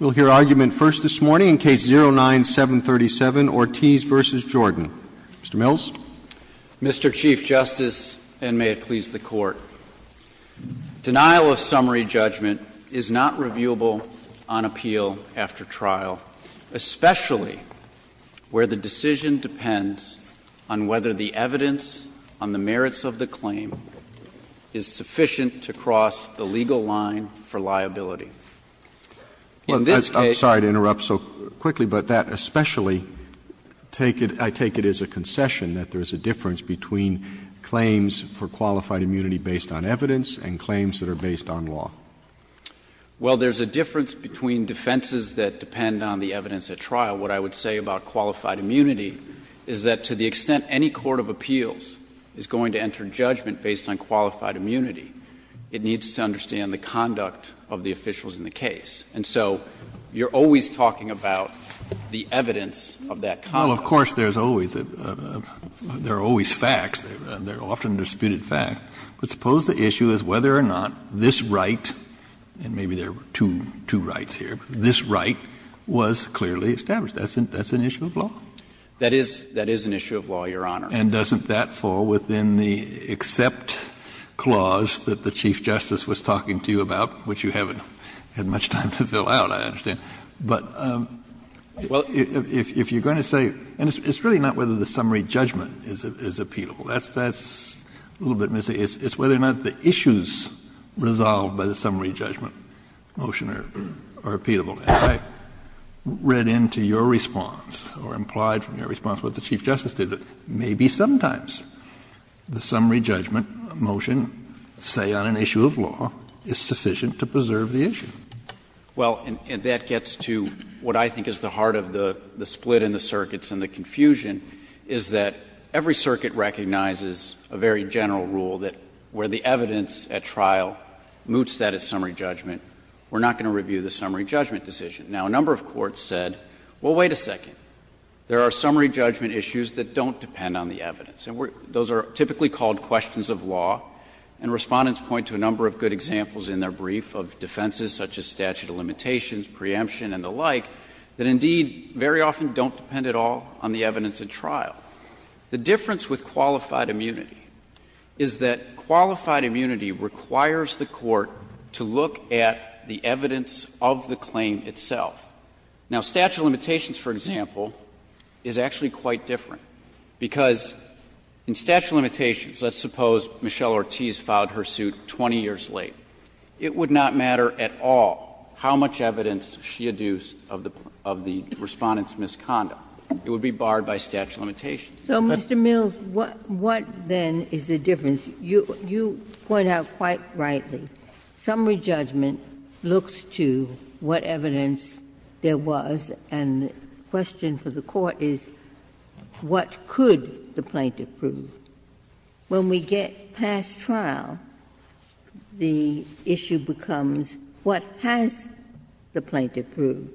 We'll hear argument first this morning in Case 09-737, Ortiz v. Jordan. Mr. Mills? Mr. Chief Justice, and may it please the Court, denial of summary judgment is not reviewable on appeal after trial, especially where the decision depends on whether the evidence on the merits of the claim is sufficient to cross the legal line for liability. In this case— I'm sorry to interrupt so quickly, but that especially—I take it as a concession that there is a difference between claims for qualified immunity based on evidence and claims that are based on law. Well, there's a difference between defenses that depend on the evidence at trial. What I would say about qualified immunity is that to the extent any court of appeals is going to enter judgment based on qualified immunity, it needs to understand the conduct of the officials in the case. And so you're always talking about the evidence of that conduct. Well, of course, there's always a — there are always facts. They're often disputed facts. But suppose the issue is whether or not this right, and maybe there are two rights here, but this right was clearly established. That's an issue of law. That is an issue of law, Your Honor. And doesn't that fall within the except clause that the Chief Justice was talking to you about, which you haven't had much time to fill out, I understand. But if you're going to say — and it's really not whether the summary judgment is appealable. That's a little bit misleading. It's whether or not the issues resolved by the summary judgment motion are appealable. And I read into your response or implied from your response what the Chief Justice said, that maybe sometimes the summary judgment motion, say on an issue of law, is sufficient to preserve the issue. Well, and that gets to what I think is the heart of the split in the circuits and the confusion, is that every circuit recognizes a very general rule that where the evidence at trial moots that as summary judgment, we're not going to review the summary judgment decision. Now, a number of courts said, well, wait a second. There are summary judgment issues that don't depend on the evidence. And those are typically called questions of law. And Respondents point to a number of good examples in their brief of defenses such as statute of limitations, preemption, and the like, that indeed very often don't depend at all on the evidence at trial. The difference with qualified immunity is that qualified immunity requires the court to look at the evidence of the claim itself. Now, statute of limitations, for example, is actually quite different, because in statute of limitations, let's suppose Michelle Ortiz filed her suit 20 years late. It would not matter at all how much evidence she adduced of the Respondent's misconduct. It would be barred by statute of limitations. Ginsburg. So, Mr. Mills, what then is the difference? You point out quite rightly, summary judgment looks to what evidence there was, and the question for the Court is what could the plaintiff prove? When we get past trial, the issue becomes what has the plaintiff proved?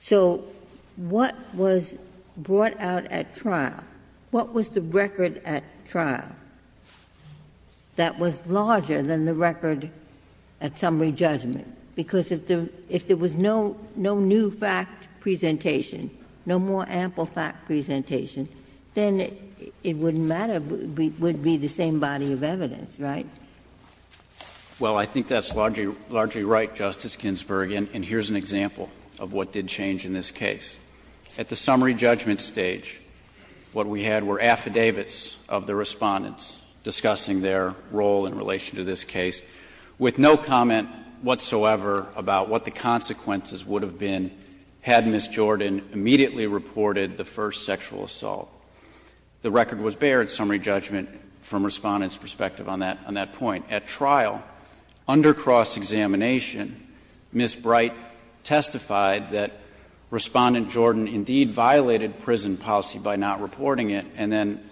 So what was brought out at trial? What was the record at trial? That was larger than the record at summary judgment, because if there was no new fact presentation, no more ample fact presentation, then it wouldn't matter. It would be the same body of evidence, right? Well, I think that's largely right, Justice Ginsburg. And here's an example of what did change in this case. At the summary judgment stage, what we had were affidavits of the Respondents discussing their role in relation to this case, with no comment whatsoever about what the consequences would have been had Ms. Jordan immediately reported the first sexual assault. The record was bared, summary judgment, from Respondent's perspective on that point. At trial, under cross-examination, Ms. Bright testified that Respondent Jordan indeed violated prison policy by not reporting it, and then,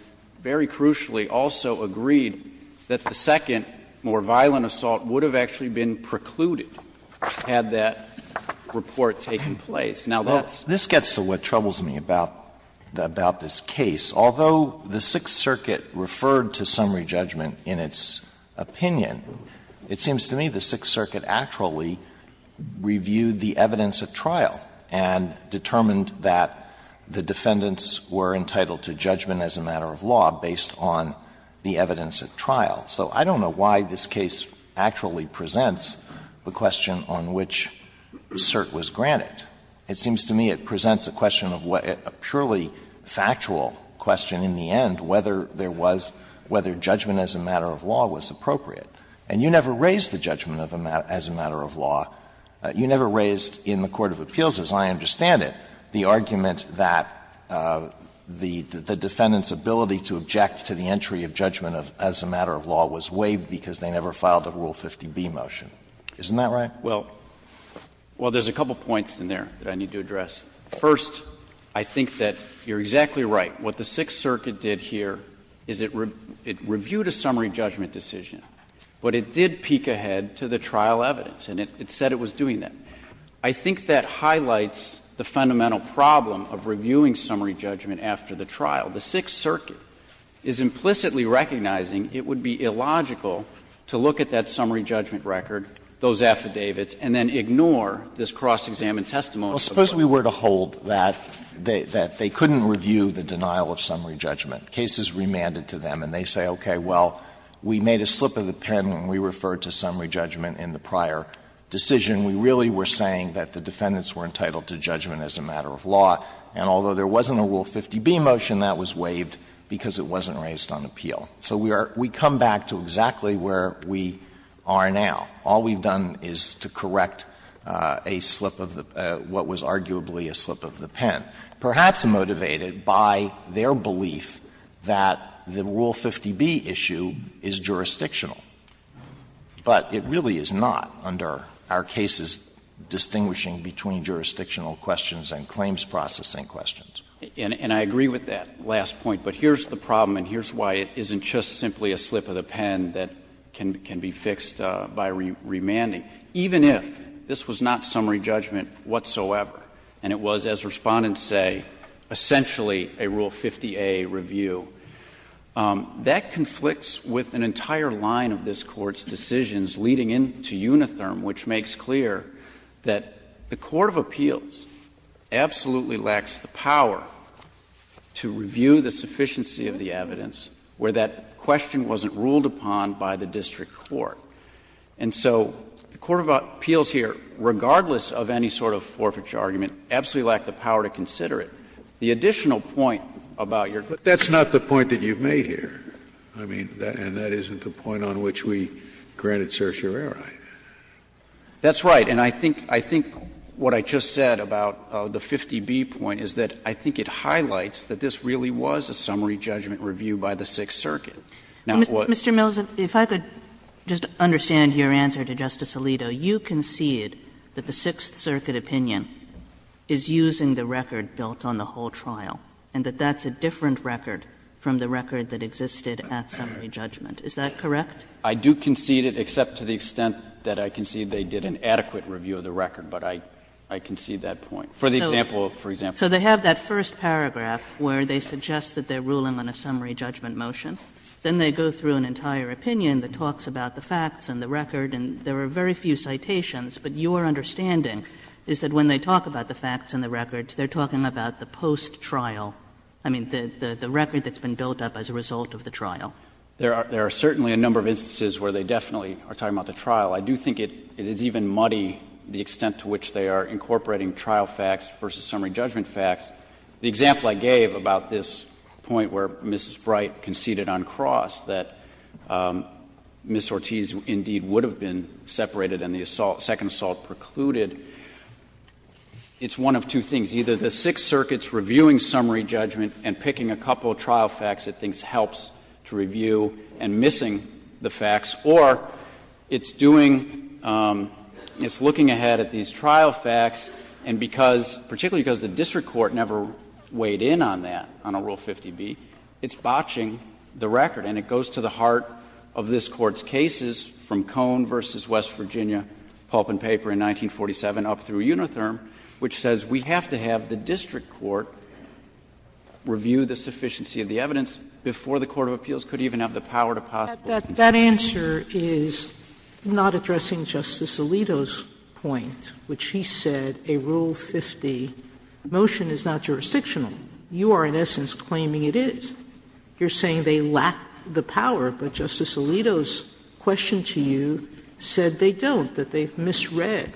very crucially, also agreed that the second, more violent assault would have actually been precluded had that report taken place. Now, that's the case. Alito, this gets to what troubles me about this case. Although the Sixth Circuit referred to summary judgment in its opinion, it seems to me the Sixth Circuit actually reviewed the evidence at trial and determined that the defendants were entitled to judgment as a matter of law based on the evidence at trial. So I don't know why this case actually presents the question on which cert was granted. It seems to me it presents a question of what a purely factual question in the end, whether there was – whether judgment as a matter of law was appropriate. And you never raised the judgment as a matter of law. You never raised in the court of appeals, as I understand it, the argument that the defendant's ability to object to the entry of judgment as a matter of law was waived because they never filed a Rule 50b motion. Isn't that right? Well, there's a couple points in there that I need to address. First, I think that you're exactly right. What the Sixth Circuit did here is it reviewed a summary judgment decision. But it did peek ahead to the trial evidence, and it said it was doing that. I think that highlights the fundamental problem of reviewing summary judgment after the trial. The Sixth Circuit is implicitly recognizing it would be illogical to look at that summary judgment record, those affidavits, and then ignore this cross-examined testimony. Alito, suppose we were to hold that they couldn't review the denial of summary judgment. The case is remanded to them, and they say, okay, well, we made a slip of the pen when we referred to summary judgment in the prior decision. We really were saying that the defendants were entitled to judgment as a matter of law. And although there wasn't a Rule 50b motion, that was waived because it wasn't raised on appeal. So we are we come back to exactly where we are now. All we've done is to correct a slip of the pen, what was arguably a slip of the pen. Perhaps motivated by their belief that the Rule 50b issue is jurisdictional. But it really is not under our cases distinguishing between jurisdictional questions and claims processing questions. And I agree with that last point. But here's the problem, and here's why it isn't just simply a slip of the pen that can be fixed by remanding. Even if this was not summary judgment whatsoever, and it was, as Respondents say, essentially a Rule 50a review, that conflicts with an entire line of this Court's decisions leading into Unitherm, which makes clear that the Court of Appeals absolutely lacks the power to review the sufficiency of the evidence where that question wasn't ruled upon by the district court. And so the Court of Appeals here, regardless of any sort of forfeiture argument, absolutely lacked the power to consider it. The additional point about your case. Scalia. But that's not the point that you've made here. I mean, and that isn't the point on which we granted certiorari. That's right. And I think what I just said about the 50b point is that I think it highlights that this really was a summary judgment review by the Sixth Circuit. Now, what Mr. Millicent, if I could just understand your answer to Justice Alito. You concede that the Sixth Circuit opinion is using the record built on the whole trial and that that's a different record from the record that existed at summary judgment. Is that correct? I do concede it, except to the extent that I concede they did an adequate review of the record. But I concede that point. For the example, for example. So they have that first paragraph where they suggest that they're ruling on a summary judgment motion. Then they go through an entire opinion that talks about the facts and the record. And there are very few citations. But your understanding is that when they talk about the facts and the records, they're talking about the post-trial. I mean, the record that's been built up as a result of the trial. There are certainly a number of instances where they definitely are talking about the trial. I do think it is even muddy the extent to which they are incorporating trial facts versus summary judgment facts. The example I gave about this point where Mrs. Bright conceded on cross that Ms. Ortiz indeed would have been separated and the assault, second assault precluded, it's one of two things. Either the Sixth Circuit's reviewing summary judgment and picking a couple of trial facts it thinks helps to review and missing the facts, or it's doing, it's looking ahead at these trial facts and because, particularly because the district court never weighed in on that, on a Rule 50B, it's botching the record. And it goes to the heart of this Court's cases from Cone v. West Virginia, pulp and paper in 1947, up through Unitherm, which says we have to have the district court review the sufficiency of the evidence before the court of appeals could even have the power to possibly. Sotomayor That answer is not addressing Justice Alito's point, which he said a Rule 50 motion is not jurisdictional. You are, in essence, claiming it is. You're saying they lack the power, but Justice Alito's question to you said they don't, that they've misread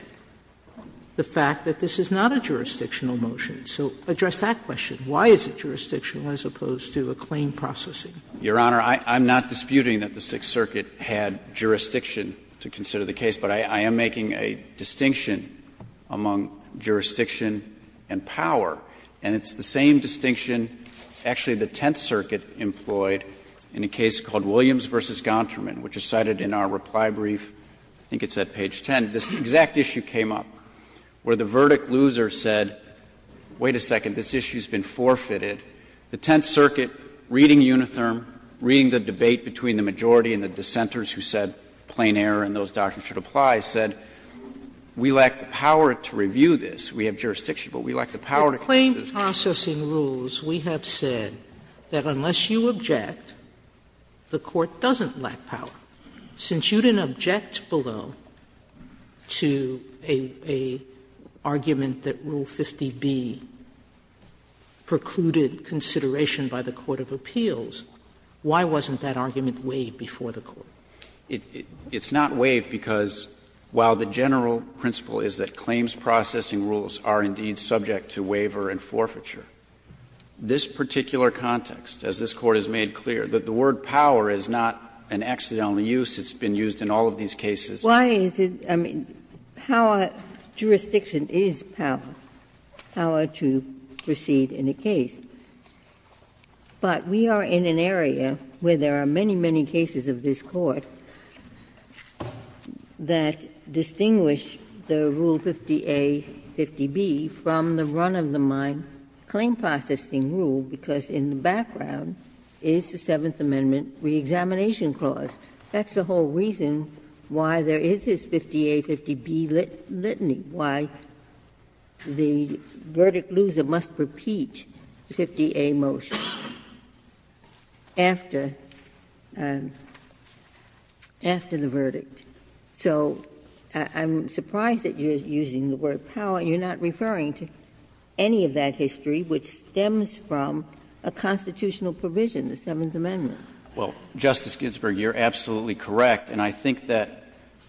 the fact that this is not a jurisdictional motion. So address that question. Why is it jurisdictional as opposed to a claim processing? Your Honor, I'm not disputing that the Sixth Circuit had jurisdiction to consider the case, but I am making a distinction among jurisdiction and power, and it's the same distinction, actually, the Tenth Circuit employed in a case called Williams v. Gontherman, which is cited in our reply brief, I think it's at page 10. This exact issue came up, where the verdict loser said, wait a second, this issue has been forfeited. The Tenth Circuit, reading Unitherm, reading the debate between the majority and the dissenters who said plain error and those doctrines should apply, said we lack the power to review this. We have jurisdiction, but we lack the power to consider this case. Sotomayor's Claim Processing Rules, we have said that unless you object, the Court doesn't lack power. Since you didn't object below to an argument that Rule 50b precluded consideration by the court of appeals, why wasn't that argument waived before the Court? It's not waived because while the general principle is that claims processing rules are indeed subject to waiver and forfeiture, this particular context, as this Court has made clear, that the word power is not an accidental use, it's been used in all of these cases. Ginsburg. Why is it — I mean, power — jurisdiction is power, power to proceed in a case. But we are in an area where there are many, many cases of this Court that distinguish the Rule 50a, 50b from the run-of-the-mind claim processing rule, because in the background is the Seventh Amendment reexamination clause. That's the whole reason why there is this 50a, 50b litany, why the verdict loser must repeat the 50a motion after the verdict. So I'm surprised that you're using the word power. You're not referring to any of that history which stems from a constitutional provision, the Seventh Amendment. Well, Justice Ginsburg, you're absolutely correct, and I think that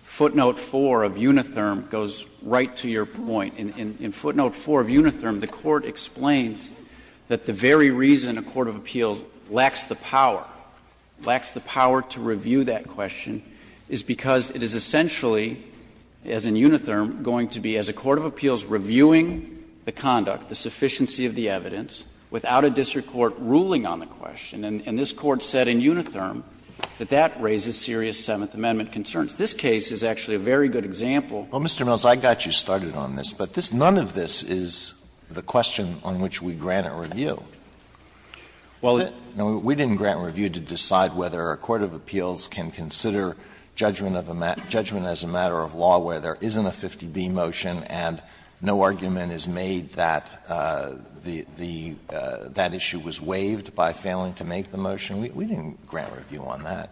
footnote 4 of Unitherm goes right to your point. In footnote 4 of Unitherm, the Court explains that the very reason a court of appeals lacks the power, lacks the power to review that question, is because it is essentially, as in Unitherm, going to be as a court of appeals reviewing the conduct, the sufficiency of the evidence, without a district court ruling on the question. And this Court said in Unitherm that that raises serious Seventh Amendment concerns. This case is actually a very good example. Alito, I got you started on this, but none of this is the question on which we grant a review. We didn't grant a review to decide whether a court of appeals can consider judgment as a matter of law where there isn't a 50b motion and no argument is made that the issue was waived by failing to make the motion. We didn't grant a review on that.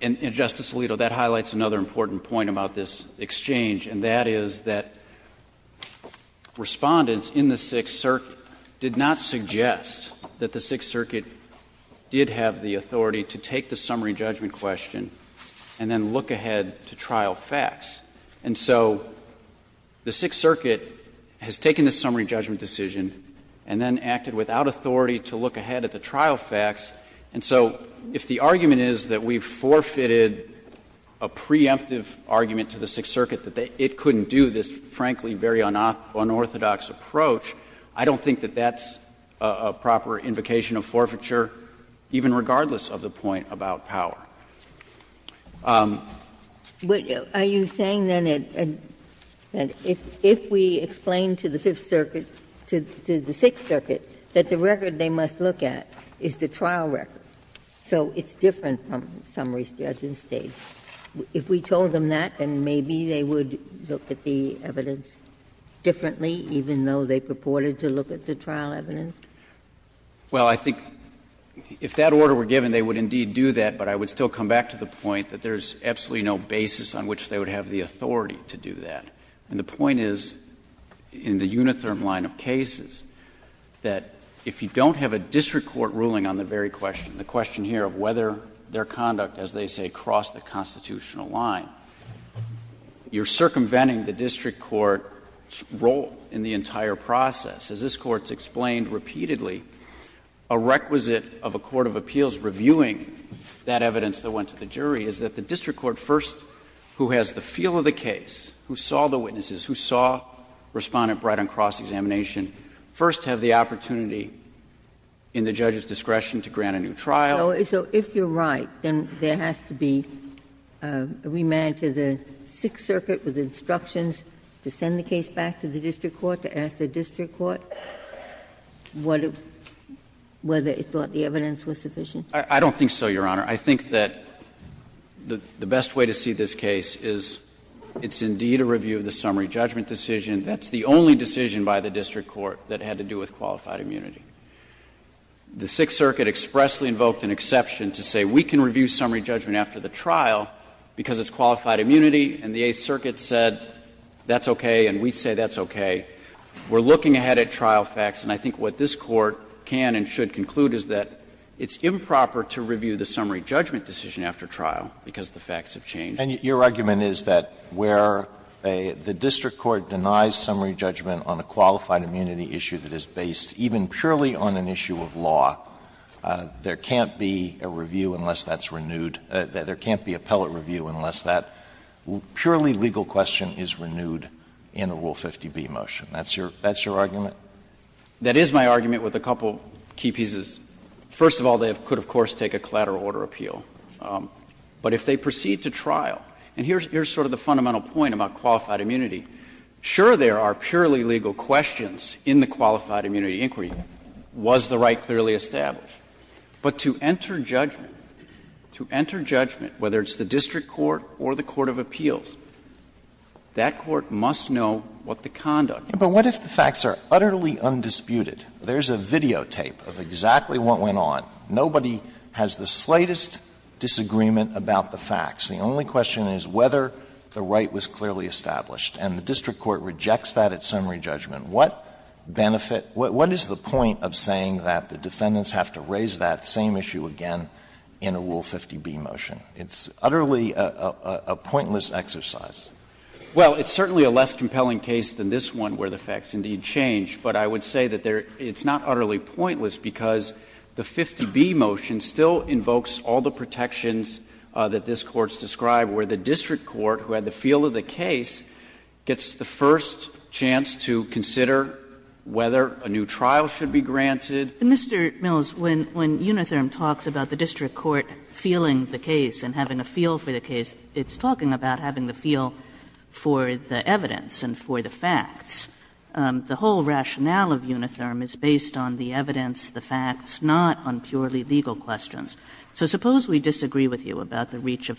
And, Justice Alito, that highlights another important point about this exchange, and that is that Respondents in the Sixth Circuit did not suggest that the Sixth Circuit did have the authority to take the summary judgment question and then look ahead to trial facts. And so the Sixth Circuit has taken the summary judgment decision and then, as a result of that, hasn't acted without authority to look ahead at the trial facts. And so if the argument is that we've forfeited a preemptive argument to the Sixth Circuit that it couldn't do this, frankly, very unorthodox approach, I don't think that that's a proper invocation of forfeiture, even regardless of the point about power. Ginsburg. Are you saying, then, that if we explain to the Fifth Circuit, to the Sixth Circuit that the record they must look at is the trial record, so it's different from summary judgment stage, if we told them that, then maybe they would look at the evidence differently, even though they purported to look at the trial evidence? Well, I think if that order were given, they would indeed do that, but I would still come back to the point that there's absolutely no basis on which they would have the authority to do that. And the point is, in the unitherm line of cases, that if you don't have a district court ruling on the very question, the question here of whether their conduct, as they say, crossed the constitutional line, you're circumventing the district court's role in the entire process. As this Court's explained repeatedly, a requisite of a court of appeals reviewing that evidence that went to the jury is that the district court first, who has the feel of the case, who saw the witnesses, who saw Respondent Bright on cross-examination, first have the opportunity in the judge's discretion to grant a new trial. So if you're right, then there has to be a remand to the Sixth Circuit with instructions to send the case back to the district court, to ask the district court what it, whether it thought the evidence was sufficient? I don't think so, Your Honor. I think that the best way to see this case is it's indeed a review of the summary judgment decision. That's the only decision by the district court that had to do with qualified immunity. The Sixth Circuit expressly invoked an exception to say we can review summary judgment after the trial because it's qualified immunity, and the Eighth Circuit said that's okay and we say that's okay. We're looking ahead at trial facts, and I think what this Court can and should conclude is that it's improper to review the summary judgment decision after trial because the facts have changed. Alitoso, and your argument is that where the district court denies summary judgment on a qualified immunity issue that is based even purely on an issue of law, there can't be a review unless that's renewed, there can't be appellate review unless that purely legal question is renewed in a Rule 50b motion. That's your argument? That is my argument with a couple of key pieces. First of all, they could, of course, take a collateral order appeal. But if they proceed to trial, and here's sort of the fundamental point about qualified immunity. Sure, there are purely legal questions in the qualified immunity inquiry. Was the right clearly established? But to enter judgment, to enter judgment, whether it's the district court or the court of appeals, that court must know what the conduct is. But what if the facts are utterly undisputed? There's a videotape of exactly what went on. Nobody has the slightest disagreement about the facts. The only question is whether the right was clearly established. And the district court rejects that at summary judgment. What benefit, what is the point of saying that the defendants have to raise that same issue again in a Rule 50b motion? It's utterly a pointless exercise. Well, it's certainly a less compelling case than this one where the facts indeed change, but I would say that it's not utterly pointless because the 50b motion still invokes all the protections that this Court's described, where the district court, who had the feel of the case, gets the first chance to consider whether a new trial should be granted. Kagan, and Mr. Mills, when Unitherm talks about the district court feeling the case and having a feel for the case, it's talking about having the feel of the case. It's talking about having a feel for the evidence and for the facts. The whole rationale of Unitherm is based on the evidence, the facts, not on purely legal questions. So suppose we disagree with you about the reach of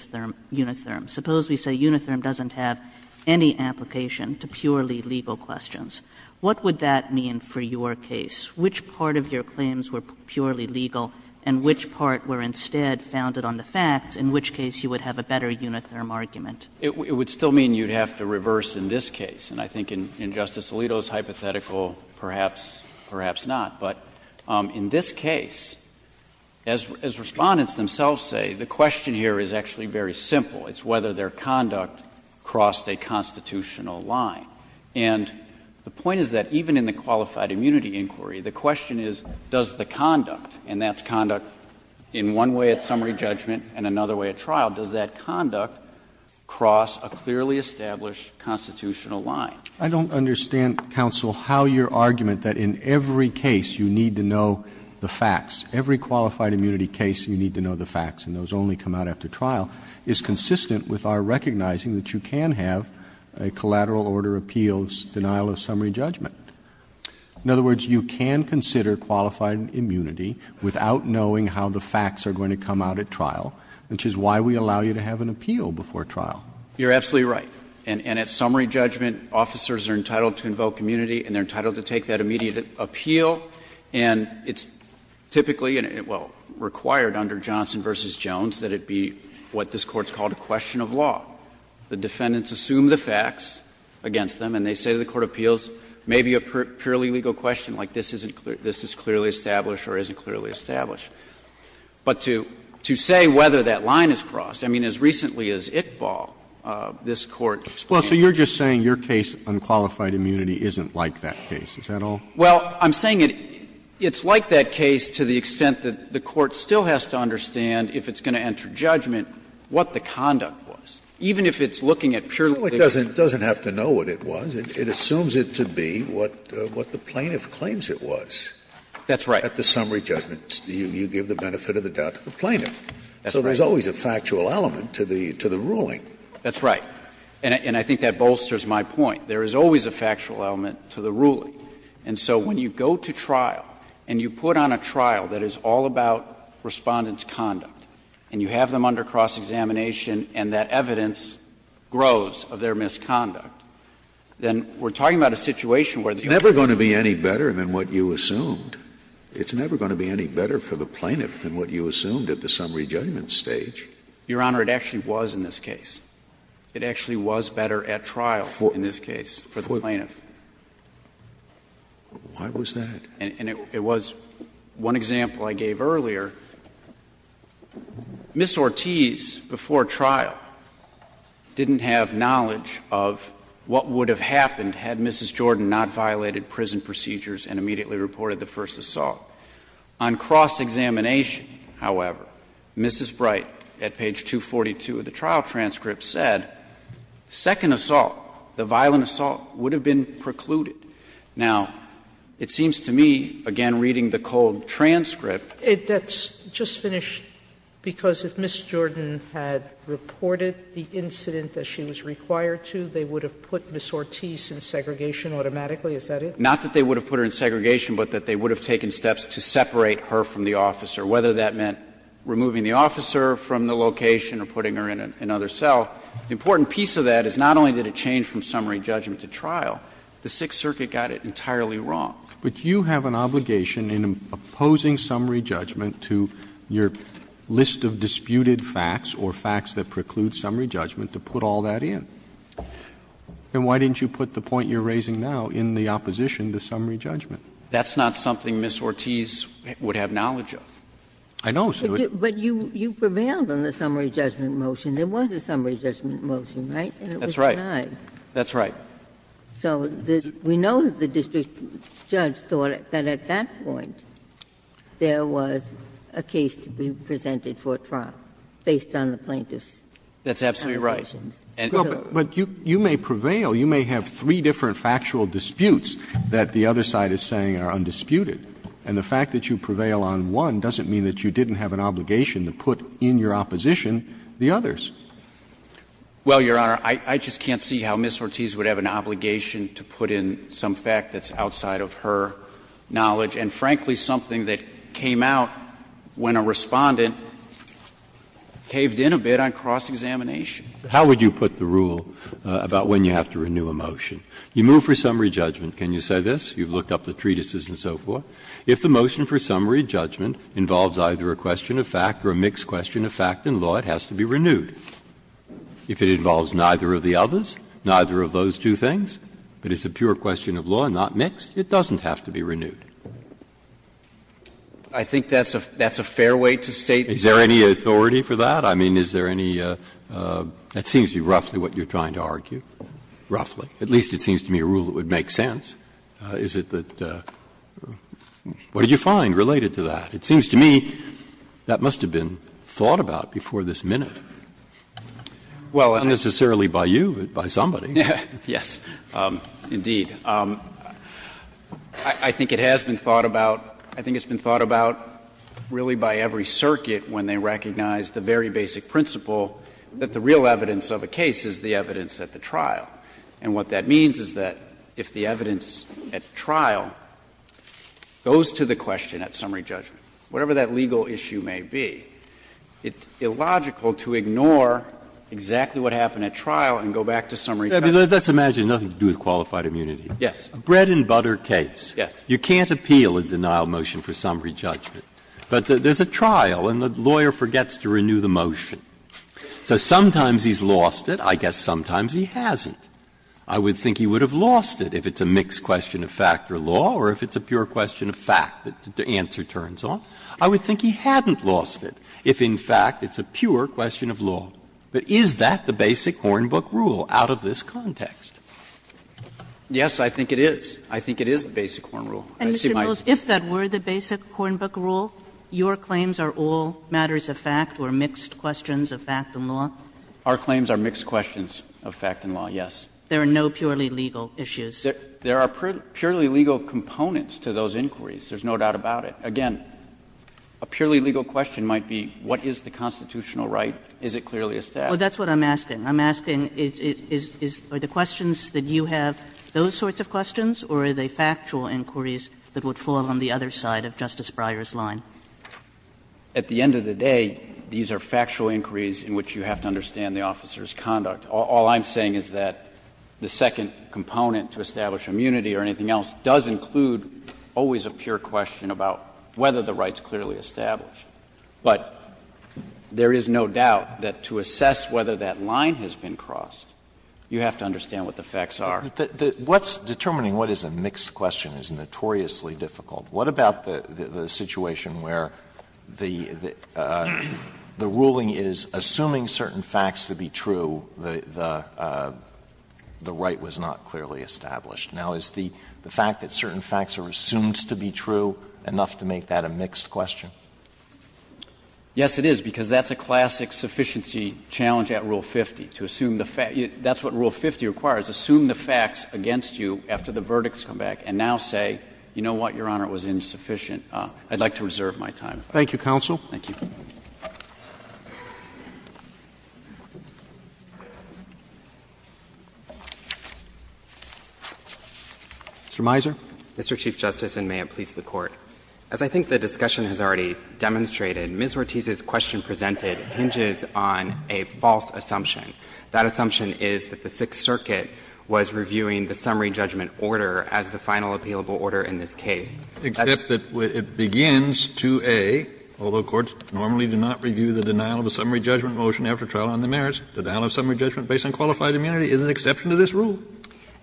Unitherm. Suppose we say Unitherm doesn't have any application to purely legal questions. What would that mean for your case? Which part of your claims were purely legal and which part were instead founded on the facts, in which case you would have a better Unitherm argument? It would still mean you'd have to reverse in this case, and I think in Justice Alito's hypothetical, perhaps, perhaps not. But in this case, as Respondents themselves say, the question here is actually very simple. It's whether their conduct crossed a constitutional line. And the point is that even in the qualified immunity inquiry, the question is does the conduct, and that's conduct in one way at summary judgment and another way at trial, does that conduct cross a clearly established constitutional line? Roberts. I don't understand, counsel, how your argument that in every case you need to know the facts, every qualified immunity case you need to know the facts, and those only come out after trial, is consistent with our recognizing that you can have a collateral order appeals denial of summary judgment. In other words, you can consider qualified immunity without knowing how the facts are going to come out at trial, which is why we allow you to have an appeal before trial. You're absolutely right. And at summary judgment, officers are entitled to invoke immunity and they're entitled to take that immediate appeal, and it's typically, well, required under Johnson v. Jones that it be what this Court's called a question of law. The defendants assume the facts against them, and they say to the court of appeals, maybe a purely legal question like this is clearly established or isn't clearly established. But to say whether that line is crossed, I mean, as recently as Iqbal, this Court explained. Roberts, so you're just saying your case, unqualified immunity, isn't like that case, is that all? Well, I'm saying it's like that case to the extent that the court still has to understand if it's going to enter judgment what the conduct was, even if it's looking at purely legal. Scalia, it doesn't have to know what it was. It assumes it to be what the plaintiff claims it was. That's right. At the summary judgment, you give the benefit of the doubt to the plaintiff. That's right. So there's always a factual element to the ruling. That's right. And I think that bolsters my point. There is always a factual element to the ruling. And so when you go to trial and you put on a trial that is all about Respondent's of their misconduct, then we're talking about a situation where the other one is going to be better. It's never going to be any better than what you assumed. It's never going to be any better for the plaintiff than what you assumed at the summary judgment stage. Your Honor, it actually was in this case. It actually was better at trial in this case for the plaintiff. Why was that? And it was one example I gave earlier. Ms. Ortiz, before trial, didn't have knowledge of what would have happened had Mrs. Jordan not violated prison procedures and immediately reported the first assault. On cross-examination, however, Mrs. Bright, at page 242 of the trial transcript, said the second assault, the violent assault, would have been precluded. Now, it seems to me, again reading the cold transcript, that's not the case. Sotomayor, I just finished, because if Ms. Jordan had reported the incident that she was required to, they would have put Ms. Ortiz in segregation automatically? Is that it? Not that they would have put her in segregation, but that they would have taken steps to separate her from the officer, whether that meant removing the officer from the location or putting her in another cell. The important piece of that is not only did it change from summary judgment to trial, the Sixth Circuit got it entirely wrong. But you have an obligation in opposing summary judgment to your list of disputed facts or facts that preclude summary judgment to put all that in. Then why didn't you put the point you're raising now in the opposition to summary judgment? That's not something Ms. Ortiz would have knowledge of. I know, but you prevailed on the summary judgment motion. There was a summary judgment motion, right? That's right. And it was denied. That's right. So we know that the district judge thought that at that point there was a case to be presented for trial based on the plaintiff's summary judgment. That's absolutely right. But you may prevail. You may have three different factual disputes that the other side is saying are undisputed. And the fact that you prevail on one doesn't mean that you didn't have an obligation to put in your opposition the others. Well, Your Honor, I just can't see how Ms. Ortiz would have an obligation to put in some fact that's outside of her knowledge and, frankly, something that came out when a Respondent caved in a bit on cross-examination. How would you put the rule about when you have to renew a motion? You move for summary judgment, can you say this? You've looked up the treatises and so forth. If the motion for summary judgment involves either a question of fact or a mixed question of fact in law, it has to be renewed. If it involves neither of the others, neither of those two things, but it's a pure question of law, not mixed, it doesn't have to be renewed. I think that's a fair way to state the fact. Is there any authority for that? I mean, is there any – that seems to be roughly what you're trying to argue, roughly. At least it seems to me a rule that would make sense. Is it that – what did you find related to that? It seems to me that must have been thought about before this minute. Not necessarily by you, but by somebody. Yes, indeed. I think it has been thought about. I think it's been thought about really by every circuit when they recognize the very basic principle that the real evidence of a case is the evidence at the trial. And what that means is that if the evidence at trial goes to the question at summary judgment, whatever that legal issue may be, it's illogical to ignore exactly what happened at trial and go back to summary judgment. Let's imagine nothing to do with qualified immunity. Yes. A bread-and-butter case. Yes. You can't appeal a denial motion for summary judgment. But there's a trial and the lawyer forgets to renew the motion. So sometimes he's lost it. I guess sometimes he hasn't. I would think he would have lost it if it's a mixed question of fact or law or if it's a pure question of fact that the answer turns on. I would think he hadn't lost it if, in fact, it's a pure question of law. But is that the basic Hornbook rule out of this context? Yes, I think it is. I think it is the basic Hornbook rule. I see my answer. And, Mr. Mills, if that were the basic Hornbook rule, your claims are all matters of fact or mixed questions of fact and law? Our claims are mixed questions of fact and law, yes. There are no purely legal issues. There are purely legal components to those inquiries. There's no doubt about it. Again, a purely legal question might be what is the constitutional right? Is it clearly a statute? Oh, that's what I'm asking. I'm asking is the questions that you have those sorts of questions or are they factual inquiries that would fall on the other side of Justice Breyer's line? At the end of the day, these are factual inquiries in which you have to understand the officer's conduct. All I'm saying is that the second component to establish immunity or anything else does include always a pure question about whether the right's clearly established. But there is no doubt that to assess whether that line has been crossed, you have to understand what the facts are. What's determining what is a mixed question is notoriously difficult. What about the situation where the ruling is assuming certain facts to be true, the right was not clearly established? Now, is the fact that certain facts are assumed to be true enough to make that a mixed question? Yes, it is, because that's a classic sufficiency challenge at Rule 50, to assume the facts. That's what Rule 50 requires, assume the facts against you after the verdicts come back, and now say, you know what, Your Honor, it was insufficient. I'd like to reserve my time. Thank you, counsel. Thank you. Mr. Mizer. Mr. Chief Justice, and may it please the Court. As I think the discussion has already demonstrated, Ms. Ortiz's question presented hinges on a false assumption. That assumption is that the Sixth Circuit was reviewing the summary judgment order as the final appealable order in this case. Except that it begins 2A, although courts normally do not review the denial of a summary judgment motion after trial on the merits, denial of summary judgment based on qualified immunity is an exception to this rule.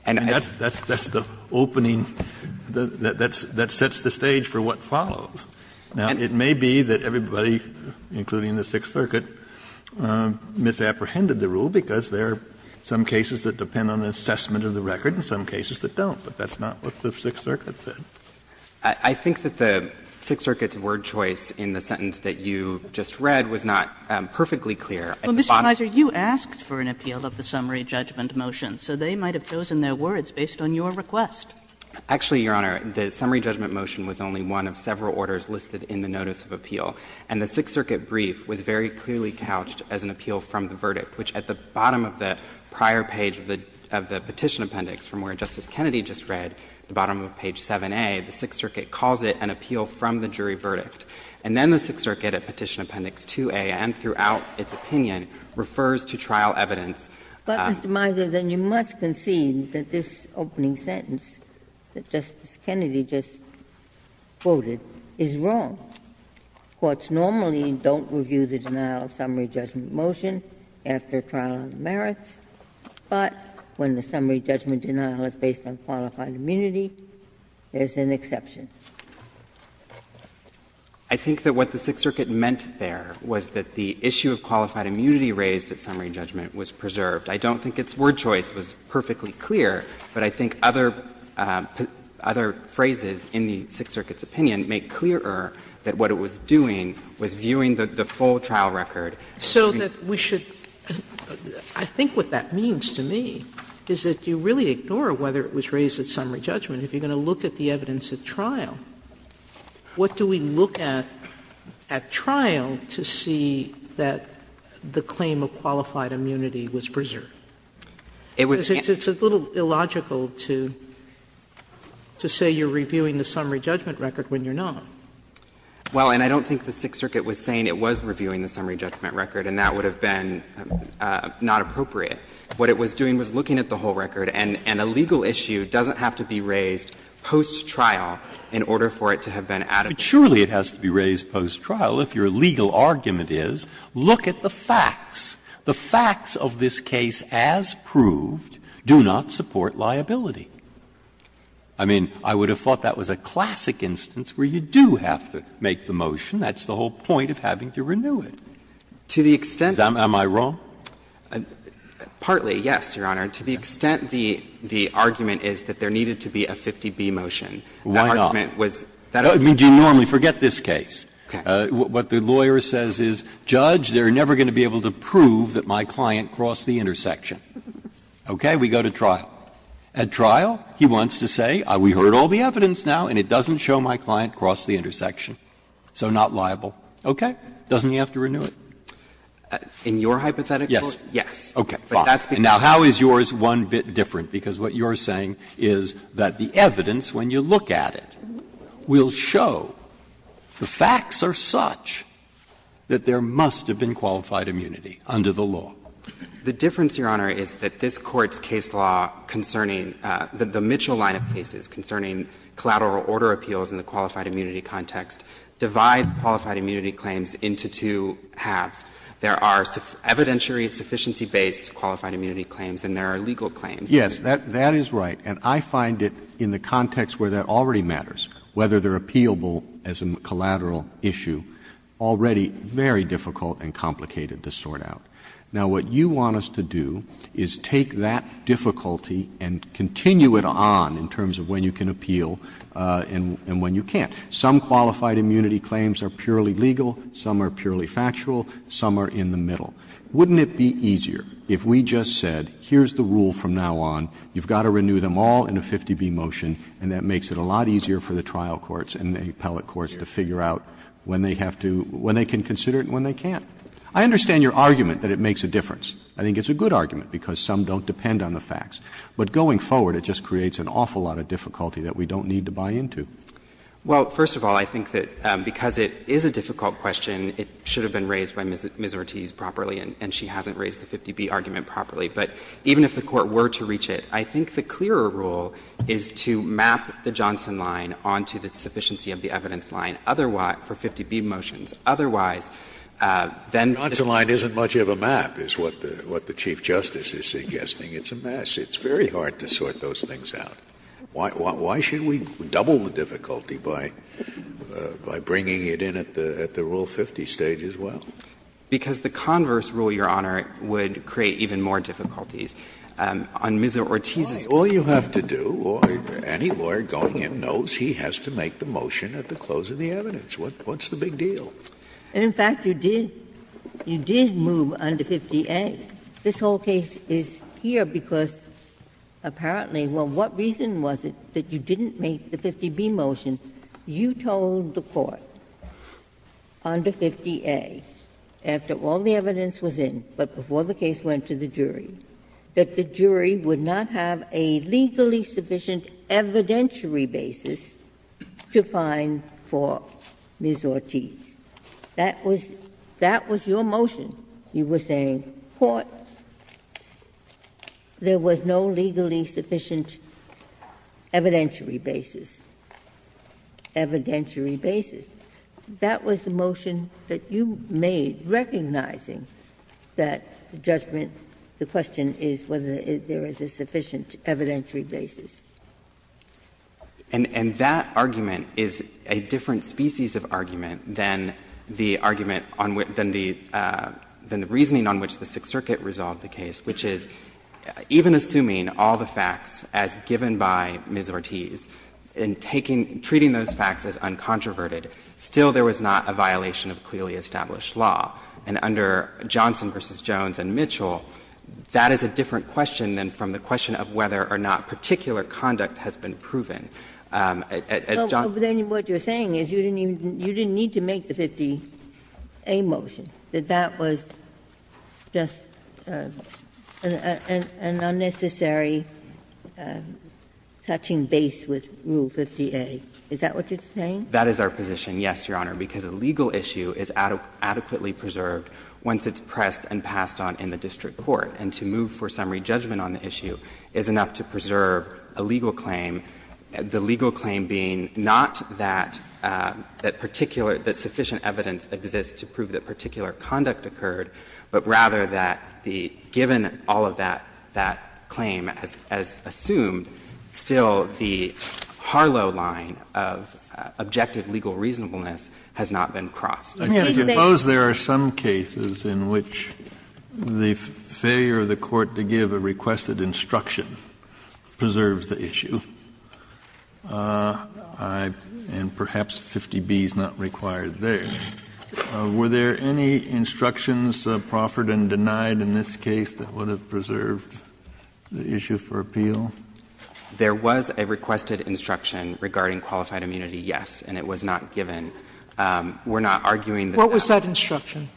And that's the opening, that sets the stage for what follows. Now, it may be that everybody, including the Sixth Circuit, misapprehended the rule because there are some cases that depend on an assessment of the record and some cases that don't, but that's not what the Sixth Circuit said. I think that the Sixth Circuit's word choice in the sentence that you just read was not perfectly clear. At the bottom of the page, it says, Well, Mr. Mizer, you asked for an appeal of the summary judgment motion, so they might have chosen their words based on your request. Actually, Your Honor, the summary judgment motion was only one of several orders listed in the notice of appeal. And the Sixth Circuit brief was very clearly couched as an appeal from the verdict, which at the bottom of the prior page of the Petition Appendix, from where Justice Kennedy just read, at the bottom of page 7a, the Sixth Circuit calls it an appeal from the jury verdict. And then the Sixth Circuit at Petition Appendix 2a and throughout its opinion refers to trial evidence. Ginsburg. But, Mr. Mizer, then you must concede that this opening sentence that Justice Kennedy just quoted is wrong. Courts normally don't review the denial of summary judgment motion after trial on merits. But when the summary judgment denial is based on qualified immunity, there's an exception. Mizer, I think that what the Sixth Circuit meant there was that the issue of qualified immunity raised at summary judgment was preserved. I don't think its word choice was perfectly clear, but I think other phrases in the Sixth Circuit's opinion make clearer that what it was doing was viewing the full trial record. Sotomayor, so that we should – I think what that means to me is that you really ignore whether it was raised at summary judgment. If you're going to look at the evidence at trial, what do we look at at trial to see that the claim of qualified immunity was preserved? It's a little illogical to say you're reviewing the summary judgment record when you're not. Well, and I don't think the Sixth Circuit was saying it was reviewing the summary judgment record, and that would have been not appropriate. What it was doing was looking at the whole record, and a legal issue doesn't have to be raised post-trial in order for it to have been added. Breyer, surely it has to be raised post-trial if your legal argument is, look at the facts. The facts of this case, as proved, do not support liability. I mean, I would have thought that was a classic instance where you do have to make the motion. That's the whole point of having to renew it. Am I wrong? Partly, yes, Your Honor. To the extent the argument is that there needed to be a 50B motion, that argument was that argument. Do you normally forget this case? What the lawyer says is, Judge, they're never going to be able to prove that my client crossed the intersection. Okay? We go to trial. At trial, he wants to say, we heard all the evidence now, and it doesn't show my client crossed the intersection, so not liable. Okay? Doesn't he have to renew it? In your hypothetical? Yes. Yes. Okay. Fine. Now, how is yours one bit different? Because what you're saying is that the evidence, when you look at it, will show the facts are such that there must have been qualified immunity under the law. The difference, Your Honor, is that this Court's case law concerning the Mitchell line of cases concerning collateral order appeals in the qualified immunity context divides qualified immunity claims into two halves. There are evidentiary sufficiency-based qualified immunity claims and there are legal claims. Yes, that is right, and I find it, in the context where that already matters, whether they're appealable as a collateral issue, already very difficult and complicated to sort out. Now, what you want us to do is take that difficulty and continue it on in terms of when you can appeal and when you can't. Some qualified immunity claims are purely legal, some are purely factual, some are in the middle. Wouldn't it be easier if we just said, here's the rule from now on, you've got to renew them all in a 50B motion, and that makes it a lot easier for the trial courts and the appellate courts to figure out when they have to — when they can consider it and when they can't. I understand your argument that it makes a difference. I think it's a good argument, because some don't depend on the facts. But going forward, it just creates an awful lot of difficulty that we don't need to buy into. Well, first of all, I think that because it is a difficult question, it should have been raised by Ms. Ortiz properly, and she hasn't raised the 50B argument properly. But even if the Court were to reach it, I think the clearer rule is to map the Johnson line onto the sufficiency of the evidence line, otherwise — for 50B motions, otherwise, then — Scalia The Johnson line isn't much of a map, is what the Chief Justice is suggesting. It's a mess. It's very hard to sort those things out. Why should we double the difficulty by bringing it in at the Rule 50 stage as well? Because the converse rule, Your Honor, would create even more difficulties. On Ms. Ortiz's — All you have to do, any lawyer going in knows he has to make the motion at the close of the evidence. What's the big deal? And, in fact, you did — you did move under 50A. This whole case is here because, apparently — well, what reason was it that you didn't make the 50B motion? You told the Court under 50A, after all the evidence was in, but before the case went to the jury, that the jury would not have a legally sufficient evidentiary basis to find for Ms. Ortiz. That was — that was your motion. You were saying, Court, there was no legally sufficient evidentiary basis. Evidentiary basis. That was the motion that you made, recognizing that the judgment — the question is whether there is a sufficient evidentiary basis. And that argument is a different species of argument than the argument on — than the — than the reasoning on which the Sixth Circuit resolved the case, which is, even assuming all the facts as given by Ms. Ortiz, and taking — treating those facts as uncontroverted, still there was not a violation of clearly established law. And under Johnson v. Jones and Mitchell, that is a different question than from the question on whether the conduct has been proven. As John — But then what you're saying is you didn't even — you didn't need to make the 50A motion, that that was just an unnecessary touching base with Rule 50A. Is that what you're saying? That is our position, yes, Your Honor, because a legal issue is adequately preserved once it's pressed and passed on in the district court, and to move for summary judgment on the issue is enough to preserve a legal claim, the legal claim being not that — that particular — that sufficient evidence exists to prove that particular conduct occurred, but rather that the — given all of that — that claim as — as assumed, still the Harlow line of objective legal reasonableness has not been crossed. Kennedy, I suppose there are some cases in which the failure of the Court to give a requested instruction preserves the issue. And perhaps 50B is not required there. Were there any instructions proffered and denied in this case that would have preserved the issue for appeal? There was a requested instruction regarding qualified immunity, yes, and it was not given. We're not arguing that that was— What was that instruction?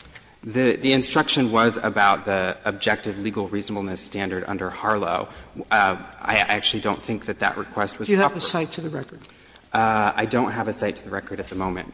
The instruction was about the objective legal reasonableness standard under Harlow. I actually don't think that that request was proffered. Do you have a cite to the record? I don't have a cite to the record at the moment.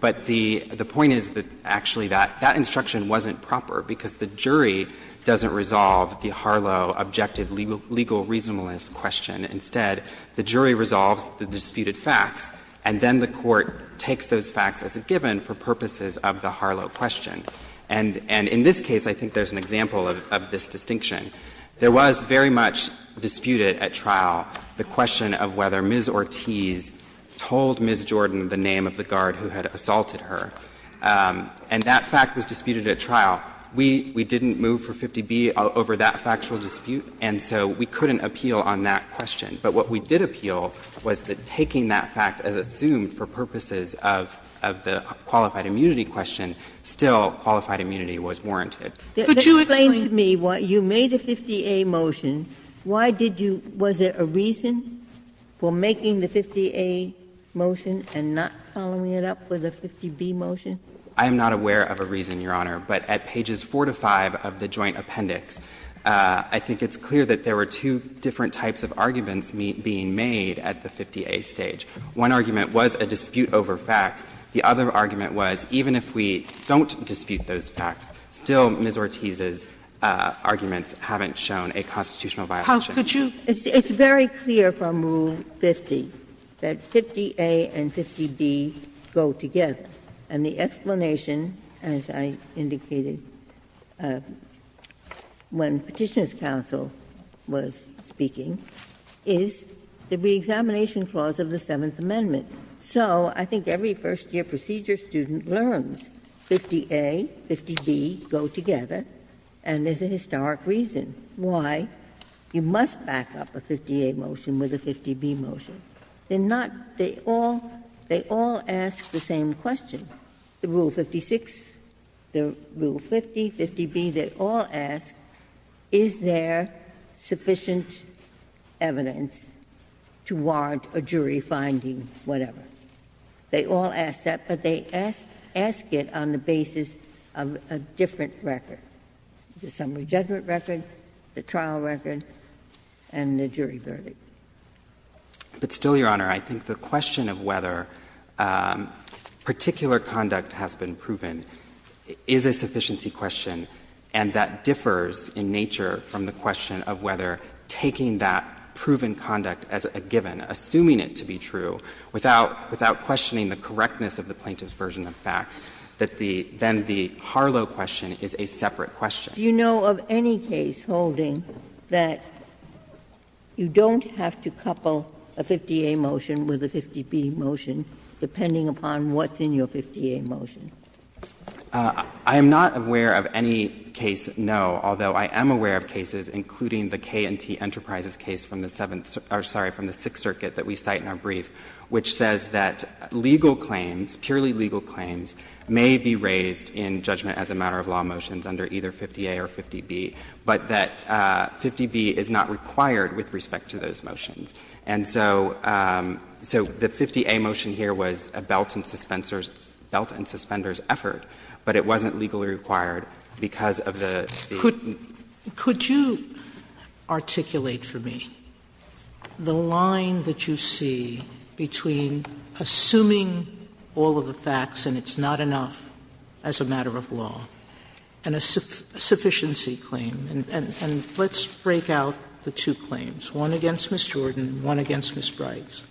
But the point is that actually that instruction wasn't proper, because the jury doesn't resolve the Harlow objective legal reasonableness question. Instead, the jury resolves the disputed facts, and then the Court takes those facts as a given for purposes of the Harlow question. And in this case, I think there's an example of this distinction. There was very much disputed at trial the question of whether Ms. Ortiz told Ms. Jordan the name of the guard who had assaulted her. And that fact was disputed at trial. We didn't move for 50B over that factual dispute, and so we couldn't appeal on that question. But what we did appeal was that taking that fact as assumed for purposes of the qualified immunity question, still qualified immunity was warranted. Could you explain to me why you made a 50A motion? Why did you — was there a reason for making the 50A motion and not following it up with a 50B motion? I am not aware of a reason, Your Honor. But at pages 4 to 5 of the joint appendix, I think it's clear that there were two different types of arguments being made at the 50A stage. One argument was a dispute over facts. The other argument was even if we don't dispute those facts, still Ms. Ortiz's arguments haven't shown a constitutional violation. How could you – It's very clear from Rule 50 that 50A and 50B go together. And the explanation, as I indicated when Petitioner's counsel was speaking, is the reexamination clause of the Seventh Amendment. So I think every first-year procedure student learns 50A, 50B go together, and there is a historic reason why you must back up a 50A motion with a 50B motion. They're not – they all ask the same question. The Rule 56, the Rule 50, 50B, they all ask, is there sufficient evidence to warrant a jury finding, whatever. They all ask that, but they ask it on the basis of a different record, the summary judgment record, the trial record, and the jury verdict. But still, Your Honor, I think the question of whether particular conduct has been proven is a sufficiency question, and that differs in nature from the question of whether taking that proven conduct as a given, assuming it to be true, without questioning the correctness of the plaintiff's version of facts, that the – then the Harlow question is a separate question. Ginsburg. Do you know of any case holding that you don't have to couple a 50A motion with a 50B motion, depending upon what's in your 50A motion? I am not aware of any case, no, although I am aware of cases, including the K&T Enterprises case from the Seventh – or, sorry, from the Sixth Circuit that we cite in our brief, which says that legal claims, purely legal claims, may be raised in judgment as a matter of law motions under either 50A or 50B, but that 50B is not required with respect to those motions. And so the 50A motion here was a belt and suspenders' effort, but it wasn't legally required because of the – Could you articulate for me the line that you see between assuming all of the facts and it's not enough as a matter of law and a sufficiency claim? And let's break out the two claims, one against Ms. Jordan, one against Ms. Bright.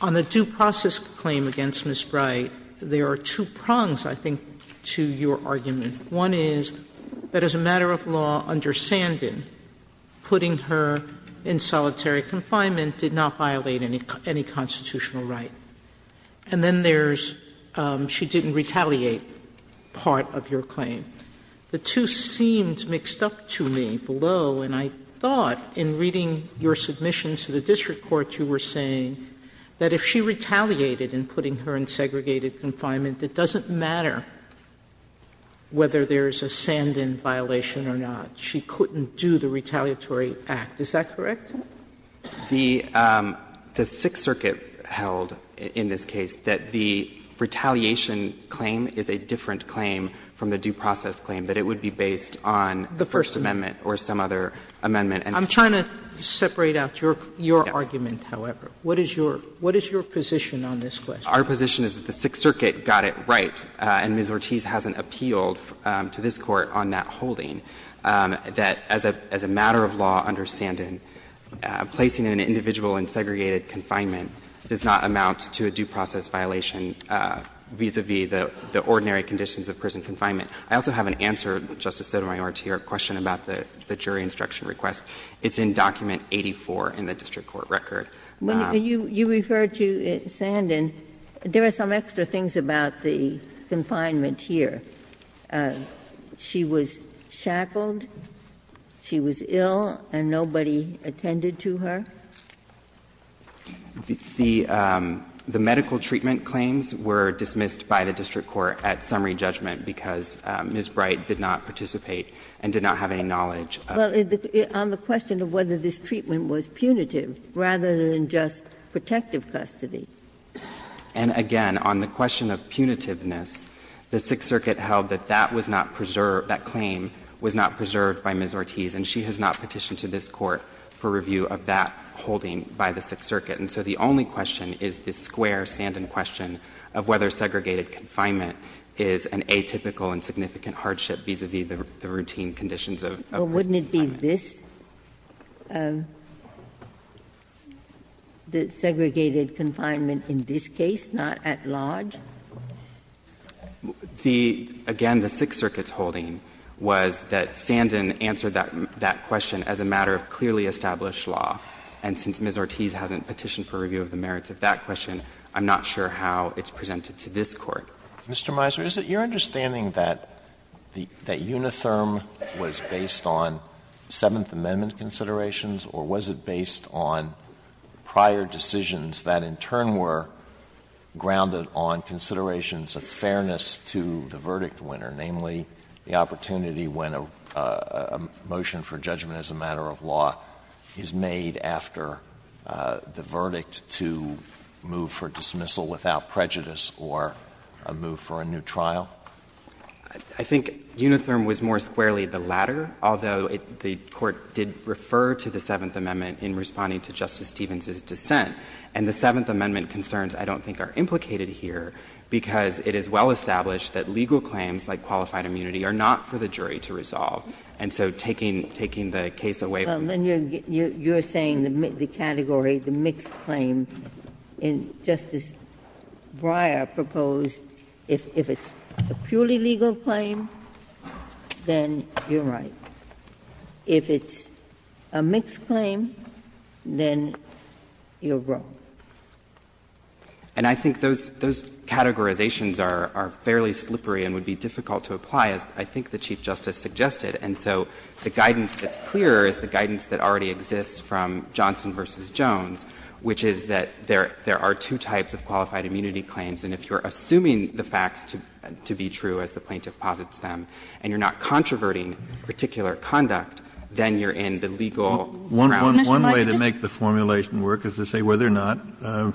On the due process claim against Ms. Bright, there are two prongs, I think, to your argument. One is that as a matter of law under Sandin, putting her in solitary confinement did not violate any constitutional right. And then there's she didn't retaliate part of your claim. The two seemed mixed up to me below, and I thought in reading your submissions to the district court you were saying that if she retaliated in putting her in segregated confinement, it doesn't matter whether there's a Sandin violation or not. She couldn't do the retaliatory act. Is that correct? The Sixth Circuit held in this case that the retaliation claim is a different claim from the due process claim, that it would be based on the First Amendment or some other amendment. I'm trying to separate out your argument, however. What is your position on this question? Our position is that the Sixth Circuit got it right, and Ms. Ortiz hasn't appealed to this Court on that holding, that as a matter of law under Sandin, placing an individual in segregated confinement does not amount to a due process violation vis-a-vis the ordinary conditions of prison confinement. I also have an answer, Justice Sotomayor, to your question about the jury instruction request. It's in document 84 in the district court record. When you refer to Sandin, there are some extra things about the confinement here. She was shackled, she was ill, and nobody attended to her? The medical treatment claims were dismissed by the district court at summary judgment because Ms. Bright did not participate and did not have any knowledge of it. Well, on the question of whether this treatment was punitive rather than just protective custody. And again, on the question of punitiveness, the Sixth Circuit held that that was not preserved, that claim was not preserved by Ms. Ortiz, and she has not petitioned to this Court for review of that holding by the Sixth Circuit. And so the only question is the square Sandin question of whether segregated confinement is an atypical and significant hardship vis-a-vis the routine conditions of prison confinement. Ginsburg's question was, wouldn't it be this, the segregated confinement in this case, not at large? The again, the Sixth Circuit's holding was that Sandin answered that question as a matter of clearly established law. And since Ms. Ortiz hasn't petitioned for review of the merits of that question, I'm not sure how it's presented to this Court. Mr. Miser, is it your understanding that the unitherm was based on Seventh Amendment considerations, or was it based on prior decisions that in turn were grounded on considerations of fairness to the verdict winner, namely the opportunity when a motion for judgment as a matter of law is made after the verdict to move for a new trial? Miser, I think unitherm was more squarely the latter, although the Court did refer to the Seventh Amendment in responding to Justice Stevens' dissent. And the Seventh Amendment concerns I don't think are implicated here, because it is well-established that legal claims like qualified immunity are not for the jury to resolve. And so taking the case away from that. Ginsburg. You're saying the category, the mixed claim, and Justice Breyer proposed if it's a purely legal claim, then you're right. If it's a mixed claim, then you're wrong. And I think those categorizations are fairly slippery and would be difficult to apply, as I think the Chief Justice suggested. And so the guidance that's clearer is the guidance that already exists from Johnson v. Jones, which is that there are two types of qualified immunity claims. And if you're assuming the facts to be true, as the plaintiff posits them, and you're not controverting particular conduct, then you're in the legal ground. Kennedy. One way to make the formulation work is to say whether or not the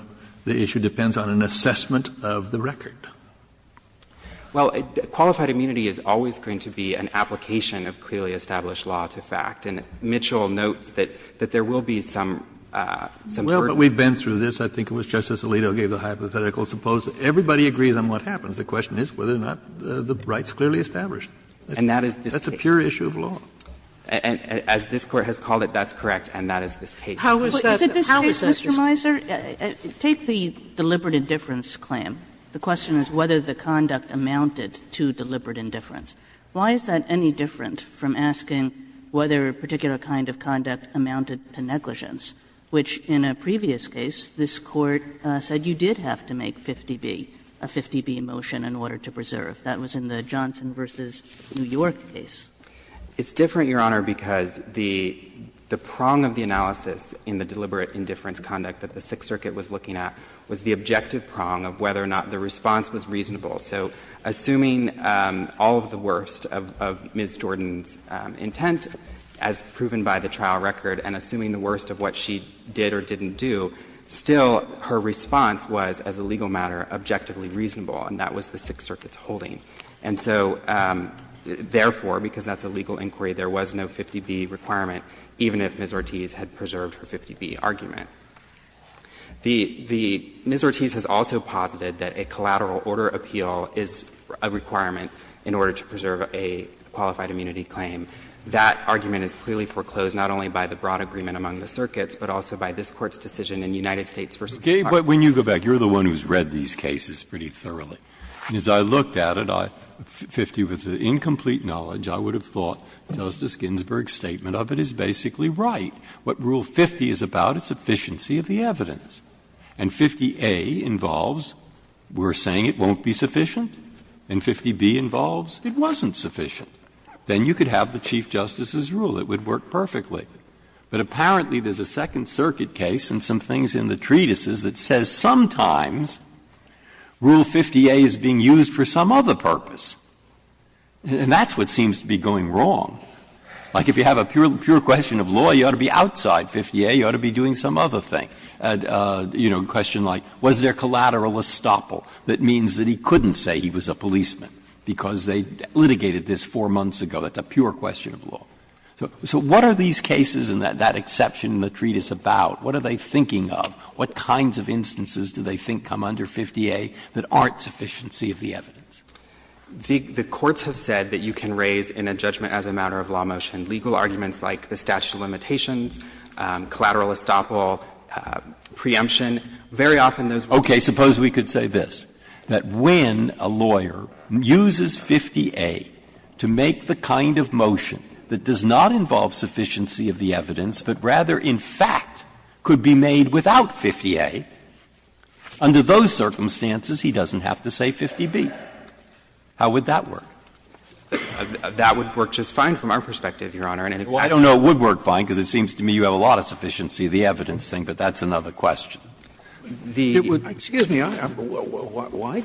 issue depends on an assessment of the record. Well, qualified immunity is always going to be an application of clearly established law to fact. And Mitchell notes that there will be some sort of question. Well, but we've been through this. I think it was Justice Alito who gave the hypothetical. Suppose everybody agrees on what happens. The question is whether or not the right is clearly established. And that is this case. That's a pure issue of law. As this Court has called it, that's correct, and that is this case. How is that? Is it this case, Mr. Mizer? Kagan. Take the deliberate indifference claim. The question is whether the conduct amounted to deliberate indifference. Why is that any different from asking whether a particular kind of conduct amounted to negligence, which in a previous case this Court said you did have to make 50B, a 50B motion, in order to preserve? That was in the Johnson v. New York case. Mizer, Your Honor, because the prong of the analysis in the deliberate indifference conduct that the Sixth Circuit was looking at was the objective prong of whether or not the response was reasonable. So assuming all of the worst of Ms. Jordan's intent, as proven by the trial record, and assuming the worst of what she did or didn't do, still her response was, as a legal matter, objectively reasonable, and that was the Sixth Circuit's holding. And so, therefore, because that's a legal inquiry, there was no 50B requirement, even if Ms. Ortiz had preserved her 50B argument. The Ms. Ortiz has also posited that a collateral order appeal is a requirement in order to preserve a qualified immunity claim. That argument is clearly foreclosed not only by the broad agreement among the circuits, but also by this Court's decision in United States v. Harvard. Breyer, when you go back, you're the one who's read these cases pretty thoroughly. As I looked at it, 50 with incomplete knowledge, I would have thought Justice Ginsburg's statement of it is basically right. What Rule 50 is about is sufficiency of the evidence. And 50A involves we're saying it won't be sufficient, and 50B involves it wasn't sufficient. Then you could have the Chief Justice's rule. It would work perfectly. But apparently there's a Second Circuit case and some things in the treatises that says sometimes Rule 50A is being used for some other purpose. And that's what seems to be going wrong. Like if you have a pure question of law, you ought to be outside 50A. You ought to be doing some other thing. You know, a question like was there collateral estoppel that means that he couldn't say he was a policeman, because they litigated this 4 months ago. That's a pure question of law. So what are these cases and that exception in the treatise about? What are they thinking of? What kinds of instances do they think come under 50A that aren't sufficiency of the evidence? The courts have said that you can raise in a judgment as a matter of law motion legal arguments like the statute of limitations, collateral estoppel, preemption. Very often those rules are used. Breyer. Okay. Suppose we could say this, that when a lawyer uses 50A to make the kind of motion that does not involve sufficiency of the evidence, but rather in fact could be made without 50A, under those circumstances he doesn't have to say 50B. How would that work? That would work just fine from our perspective, Your Honor. I don't know it would work fine, because it seems to me you have a lot of sufficiency of the evidence thing, but that's another question. The question is, excuse me, why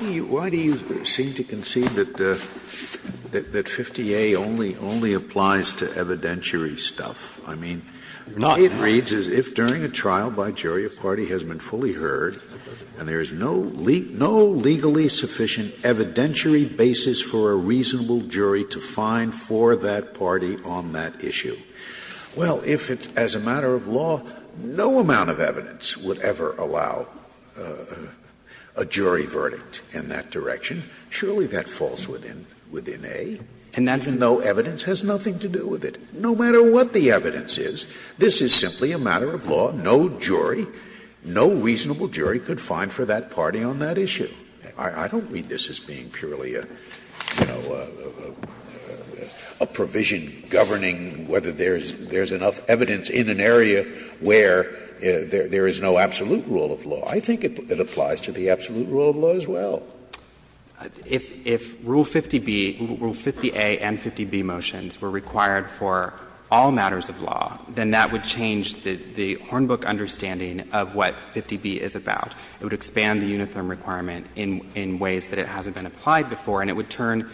do you seem to concede that 50A only applies to evidentiary stuff? I mean, the way it reads is if during a trial by jury a party has been fully heard and there is no legally sufficient evidentiary basis for a reasonable jury to find for that party on that issue, well, if it's as a matter of law, no amount of evidence would ever allow a jury verdict in that direction, surely that falls within A. And that's a no evidence has nothing to do with it. No matter what the evidence is, this is simply a matter of law, no jury, no reasonable jury could find for that party on that issue. I don't read this as being purely a provision governing whether there is enough evidence in an area where there is no absolute rule of law. I think it applies to the absolute rule of law as well. If Rule 50B, Rule 50A and 50B motions were required for all matters of law, then that would change the Hornbook understanding of what 50B is about. It would expand the uniform requirement in ways that it hasn't been applied before, and it would turn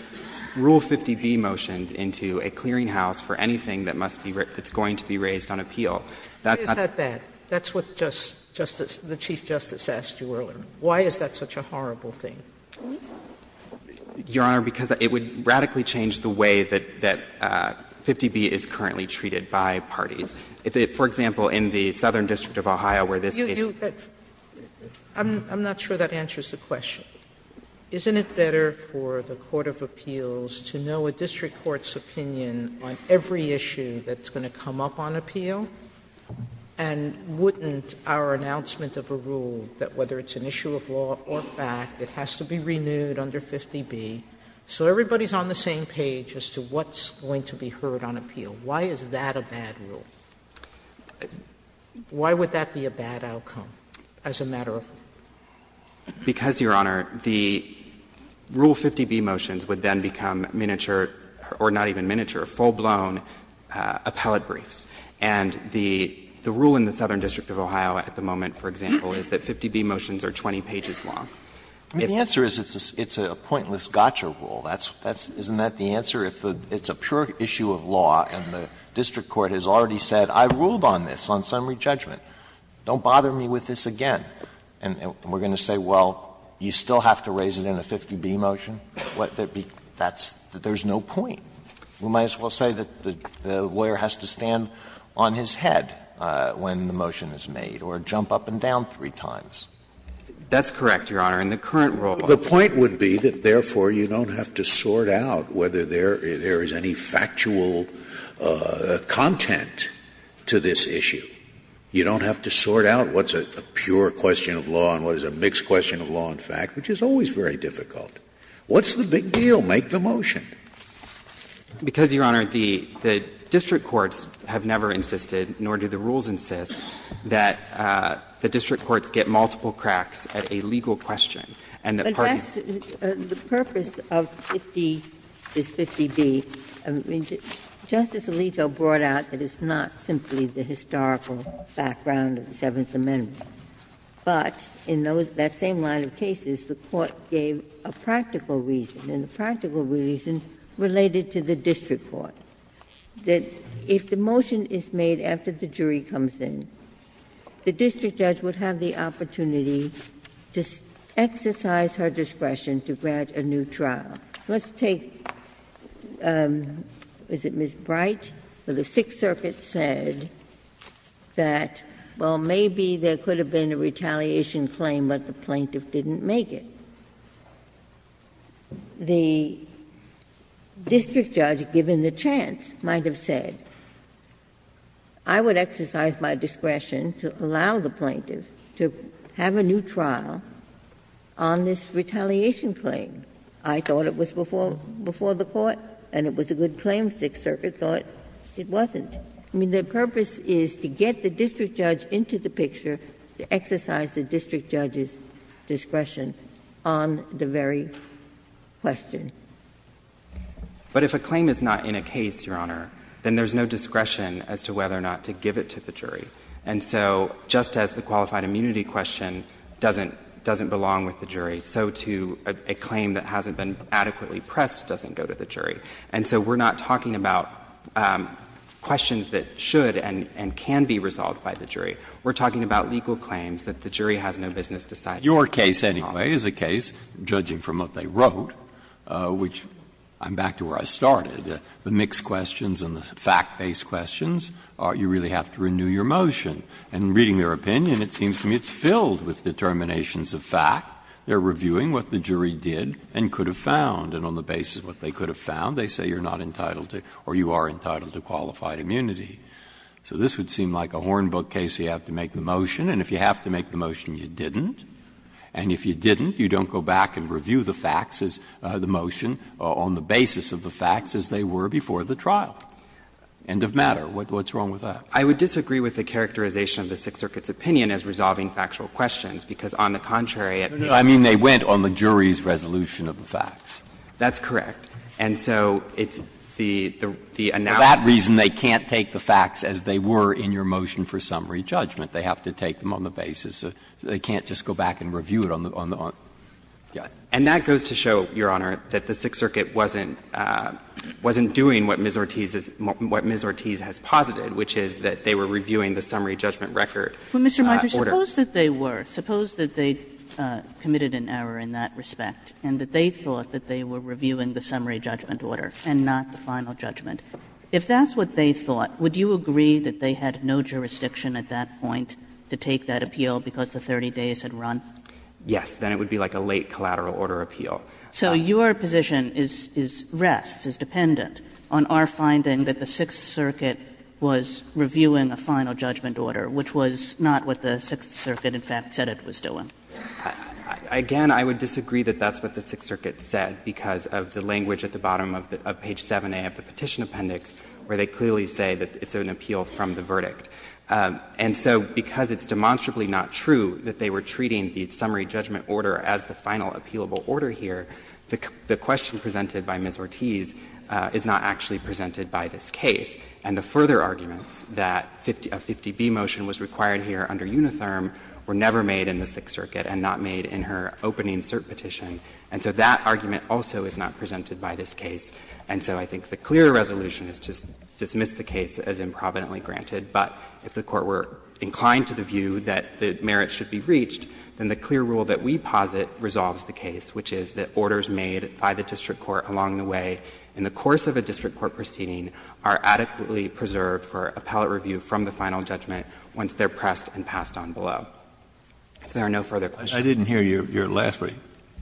Rule 50B motions into a clearinghouse for anything that must be raised that's going to be raised on appeal. Sotomayor, that's what the Chief Justice asked you earlier. Why is that such a horrible thing? Your Honor, because it would radically change the way that 50B is currently treated by parties. For example, in the Southern District of Ohio where this case is. Sotomayor, I'm not sure that answers the question. Isn't it better for the court of appeals to know a district court's opinion on every issue that's going to come up on appeal? And wouldn't our announcement of a rule that whether it's an issue of law or fact, it has to be renewed under 50B, so everybody is on the same page as to what's going to be heard on appeal. Why is that a bad rule? Why would that be a bad outcome as a matter of rule? Because, Your Honor, the Rule 50B motions would then become miniature, or not even miniature, full-blown appellate briefs. And the rule in the Southern District of Ohio at the moment, for example, is that 50B motions are 20 pages long. The answer is it's a pointless gotcha rule. Isn't that the answer? If it's a pure issue of law and the district court has already said, I ruled on this on summary judgment, don't bother me with this again, and we're going to say, well, you still have to raise it in a 50B motion, what that would be, that's, there's no point. We might as well say that the lawyer has to stand on his head when the motion is made or jump up and down three times. That's correct, Your Honor. In the current rule, the point would be that, therefore, you don't have to sort out whether there is any factual content to this issue. You don't have to sort out what's a pure question of law and what is a mixed question of law and fact, which is always very difficult. What's the big deal? Make the motion. Because, Your Honor, the district courts have never insisted, nor do the rules insist, that the district courts get multiple cracks at a legal question. And that parties do not have to be in the same room. Ginsburg. But that's the purpose of 50, this 50B. Justice Alito brought out that it's not simply the historical background of the Seventh Amendment. But in that same line of cases, the Court gave a practical reason, and the practical reason related to the district court, that if the motion is made after the jury comes in, the district judge would have the opportunity to exercise her discretion to grant a new trial. Let's take, is it Ms. Bright? The Sixth Circuit said that, well, maybe there could have been a retaliation claim, but the plaintiff didn't make it. The district judge, given the chance, might have said, I would exercise my discretion to allow the plaintiff to have a new trial on this retaliation claim. I thought it was before the Court, and it was a good claim. The Sixth Circuit thought it wasn't. I mean, the purpose is to get the district judge into the picture, to exercise the district judge's discretion on the very question. But if a claim is not in a case, Your Honor, then there's no discretion as to whether or not to give it to the jury. And so just as the qualified immunity question doesn't belong with the jury, so too a claim that hasn't been adequately pressed doesn't go to the jury. And so we're not talking about questions that should and can be resolved by the jury. We're talking about legal claims that the jury has no business deciding. Breyer's case, anyway, is a case, judging from what they wrote, which I'm back to where I started, the mixed questions and the fact-based questions, you really have to renew your motion. And reading their opinion, it seems to me it's filled with determinations of fact. They're reviewing what the jury did and could have found, and on the basis of what they could have found, they say you're not entitled to or you are entitled to qualified immunity. So this would seem like a Hornbook case where you have to make the motion, and if you have to make the motion, you didn't. And if you didn't, you don't go back and review the facts as the motion on the basis of the facts as they were before the trial. End of matter. What's wrong with that? I would disagree with the characterization of the Sixth Circuit's opinion as resolving factual questions, because on the contrary, it makes sense. No, no. I mean, they went on the jury's resolution of the facts. That's correct. And so it's the analogy. For that reason, they can't take the facts as they were in your motion for summary judgment. They have to take them on the basis of they can't just go back and review it on the other. Yeah. And that goes to show, Your Honor, that the Sixth Circuit wasn't doing what Ms. Ortiz has posited, which is that they were reviewing the summary judgment record order. Well, Mr. Meisler, suppose that they were. Suppose that they committed an error in that respect and that they thought that they were reviewing the summary judgment order and not the final judgment. If that's what they thought, would you agree that they had no jurisdiction at that point to take that appeal because the 30 days had run? Yes. Then it would be like a late collateral order appeal. So your position is rest, is dependent on our finding that the Sixth Circuit was reviewing a final judgment order, which was not what the Sixth Circuit, in fact, said it was doing. Again, I would disagree that that's what the Sixth Circuit said, because of the language at the bottom of page 7a of the Petition Appendix, where they clearly say that it's an appeal from the verdict. And so because it's demonstrably not true that they were treating the summary judgment order as the final appealable order here, the question presented by Ms. Ortiz is not actually presented by this case. And the further arguments that a 50B motion was required here under Unitherm were never made in the Sixth Circuit and not made in her opening cert petition. And so that argument also is not presented by this case. And so I think the clearer resolution is to dismiss the case as improvidently granted. But if the Court were inclined to the view that the merits should be reached, then the clear rule that we posit resolves the case, which is that orders made by the district court along the way in the course of a district court proceeding are adequately preserved for appellate review from the final judgment once they're pressed and passed on below. If there are no further questions. Kennedy, I didn't hear your last point.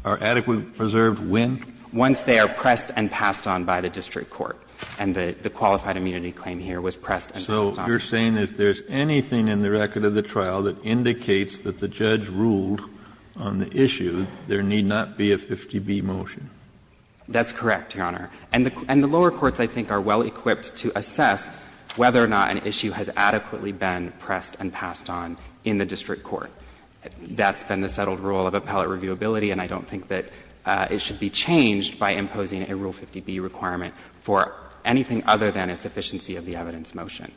Are adequately preserved when? Once they are pressed and passed on by the district court. And the qualified immunity claim here was pressed and passed on. So you're saying that if there's anything in the record of the trial that indicates that the judge ruled on the issue, there need not be a 50B motion? That's correct, Your Honor. And the lower courts, I think, are well equipped to assess whether or not an issue has adequately been pressed and passed on in the district court. That's been the settled rule of appellate reviewability, and I don't think that it should be changed by imposing a Rule 50B requirement for anything other than a sufficiency of the evidence motion.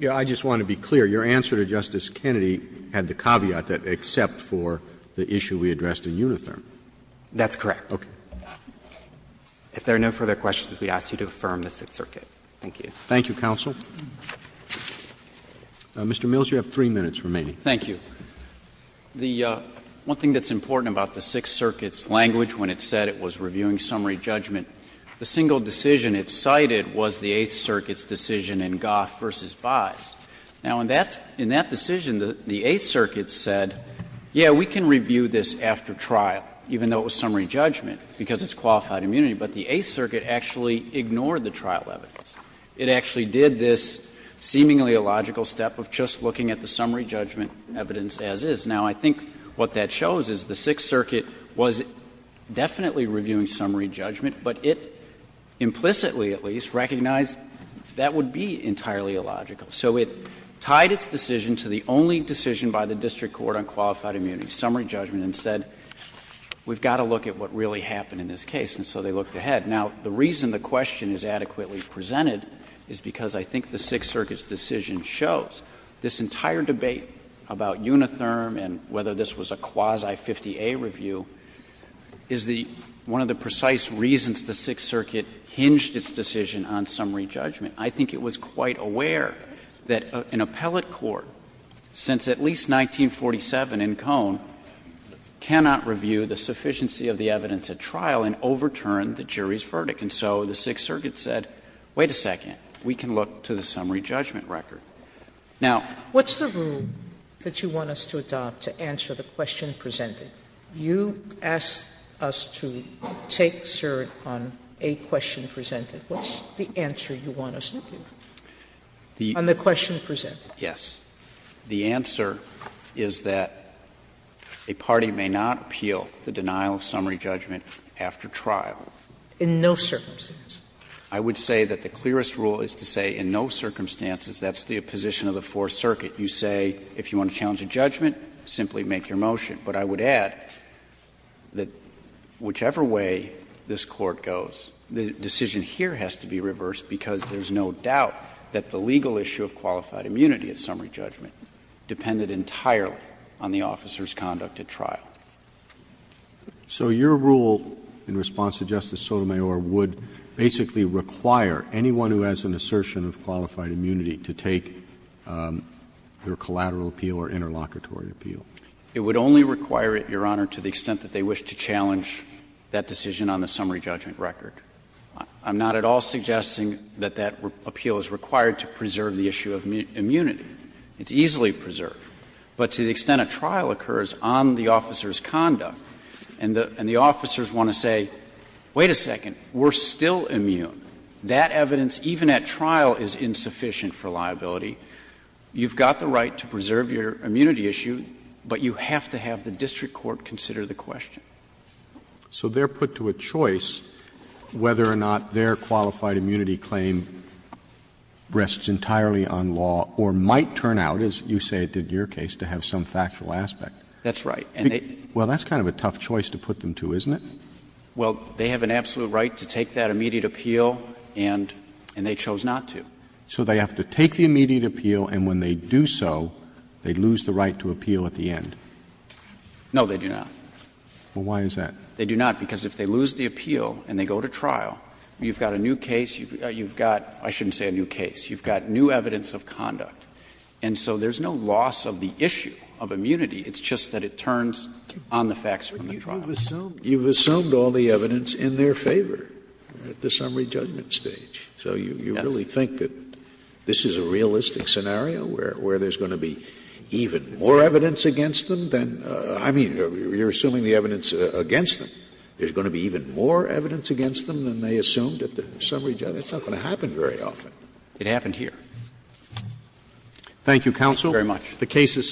Yeah, I just want to be clear. Your answer to Justice Kennedy had the caveat that, except for the issue we addressed in Unitherm. That's correct. Okay. If there are no further questions, we ask you to affirm the Sixth Circuit. Thank you. Thank you, counsel. Mr. Mills, you have three minutes remaining. Thank you. The one thing that's important about the Sixth Circuit's language when it said it was reviewing summary judgment, the single decision it cited was the Eighth Circuit's decision in Goff v. Byes. Now, in that decision, the Eighth Circuit said, yeah, we can review this after trial, even though it was summary judgment, because it's qualified immunity. But the Eighth Circuit actually ignored the trial evidence. It actually did this seemingly illogical step of just looking at the summary judgment evidence as is. Now, I think what that shows is the Sixth Circuit was definitely reviewing summary judgment, but it implicitly, at least, recognized that would be entirely illogical. So it tied its decision to the only decision by the district court on qualified immunity, summary judgment, and said, we've got to look at what really happened in this case, and so they looked ahead. Now, the reason the question is adequately presented is because I think the Sixth Circuit, about Unitherm and whether this was a quasi-50-A review, is the one of the precise reasons the Sixth Circuit hinged its decision on summary judgment. I think it was quite aware that an appellate court, since at least 1947 in Cone, cannot review the sufficiency of the evidence at trial and overturn the jury's verdict. And so the Sixth Circuit said, wait a second, we can look to the summary judgment that you want us to adopt to answer the question presented. You asked us to take cert on a question presented. What's the answer you want us to give on the question presented? Yes. The answer is that a party may not appeal the denial of summary judgment after trial. In no circumstance? I would say that the clearest rule is to say in no circumstances. That's the position of the Fourth Circuit. You say, if you want to challenge a judgment, simply make your motion. But I would add that whichever way this Court goes, the decision here has to be reversed because there's no doubt that the legal issue of qualified immunity at summary judgment depended entirely on the officer's conduct at trial. Roberts. So your rule in response to Justice Sotomayor would basically require anyone who has an assertion of qualified immunity to take their collateral appeal or interlocutory appeal? It would only require it, Your Honor, to the extent that they wish to challenge that decision on the summary judgment record. I'm not at all suggesting that that appeal is required to preserve the issue of immunity. It's easily preserved. But to the extent a trial occurs on the officer's conduct and the officers want to say, wait a second, we're still immune. That evidence, even at trial, is insufficient for liability. You've got the right to preserve your immunity issue, but you have to have the district court consider the question. So they're put to a choice whether or not their qualified immunity claim rests entirely on law or might turn out, as you say it did in your case, to have some factual aspect. That's right. Well, that's kind of a tough choice to put them to, isn't it? Well, they have an absolute right to take that immediate appeal, and they chose not to. So they have to take the immediate appeal, and when they do so, they lose the right to appeal at the end? No, they do not. Well, why is that? They do not, because if they lose the appeal and they go to trial, you've got a new case, you've got — I shouldn't say a new case. You've got new evidence of conduct. And so there's no loss of the issue of immunity. It's just that it turns on the facts from the trial. You've assumed all the evidence in their favor at the summary judgment stage. Yes. So you really think that this is a realistic scenario where there's going to be even more evidence against them than — I mean, you're assuming the evidence against them. There's going to be even more evidence against them than they assumed at the summary judgment? That's not going to happen very often. It happened here. Thank you, counsel. Thank you very much. The case is submitted.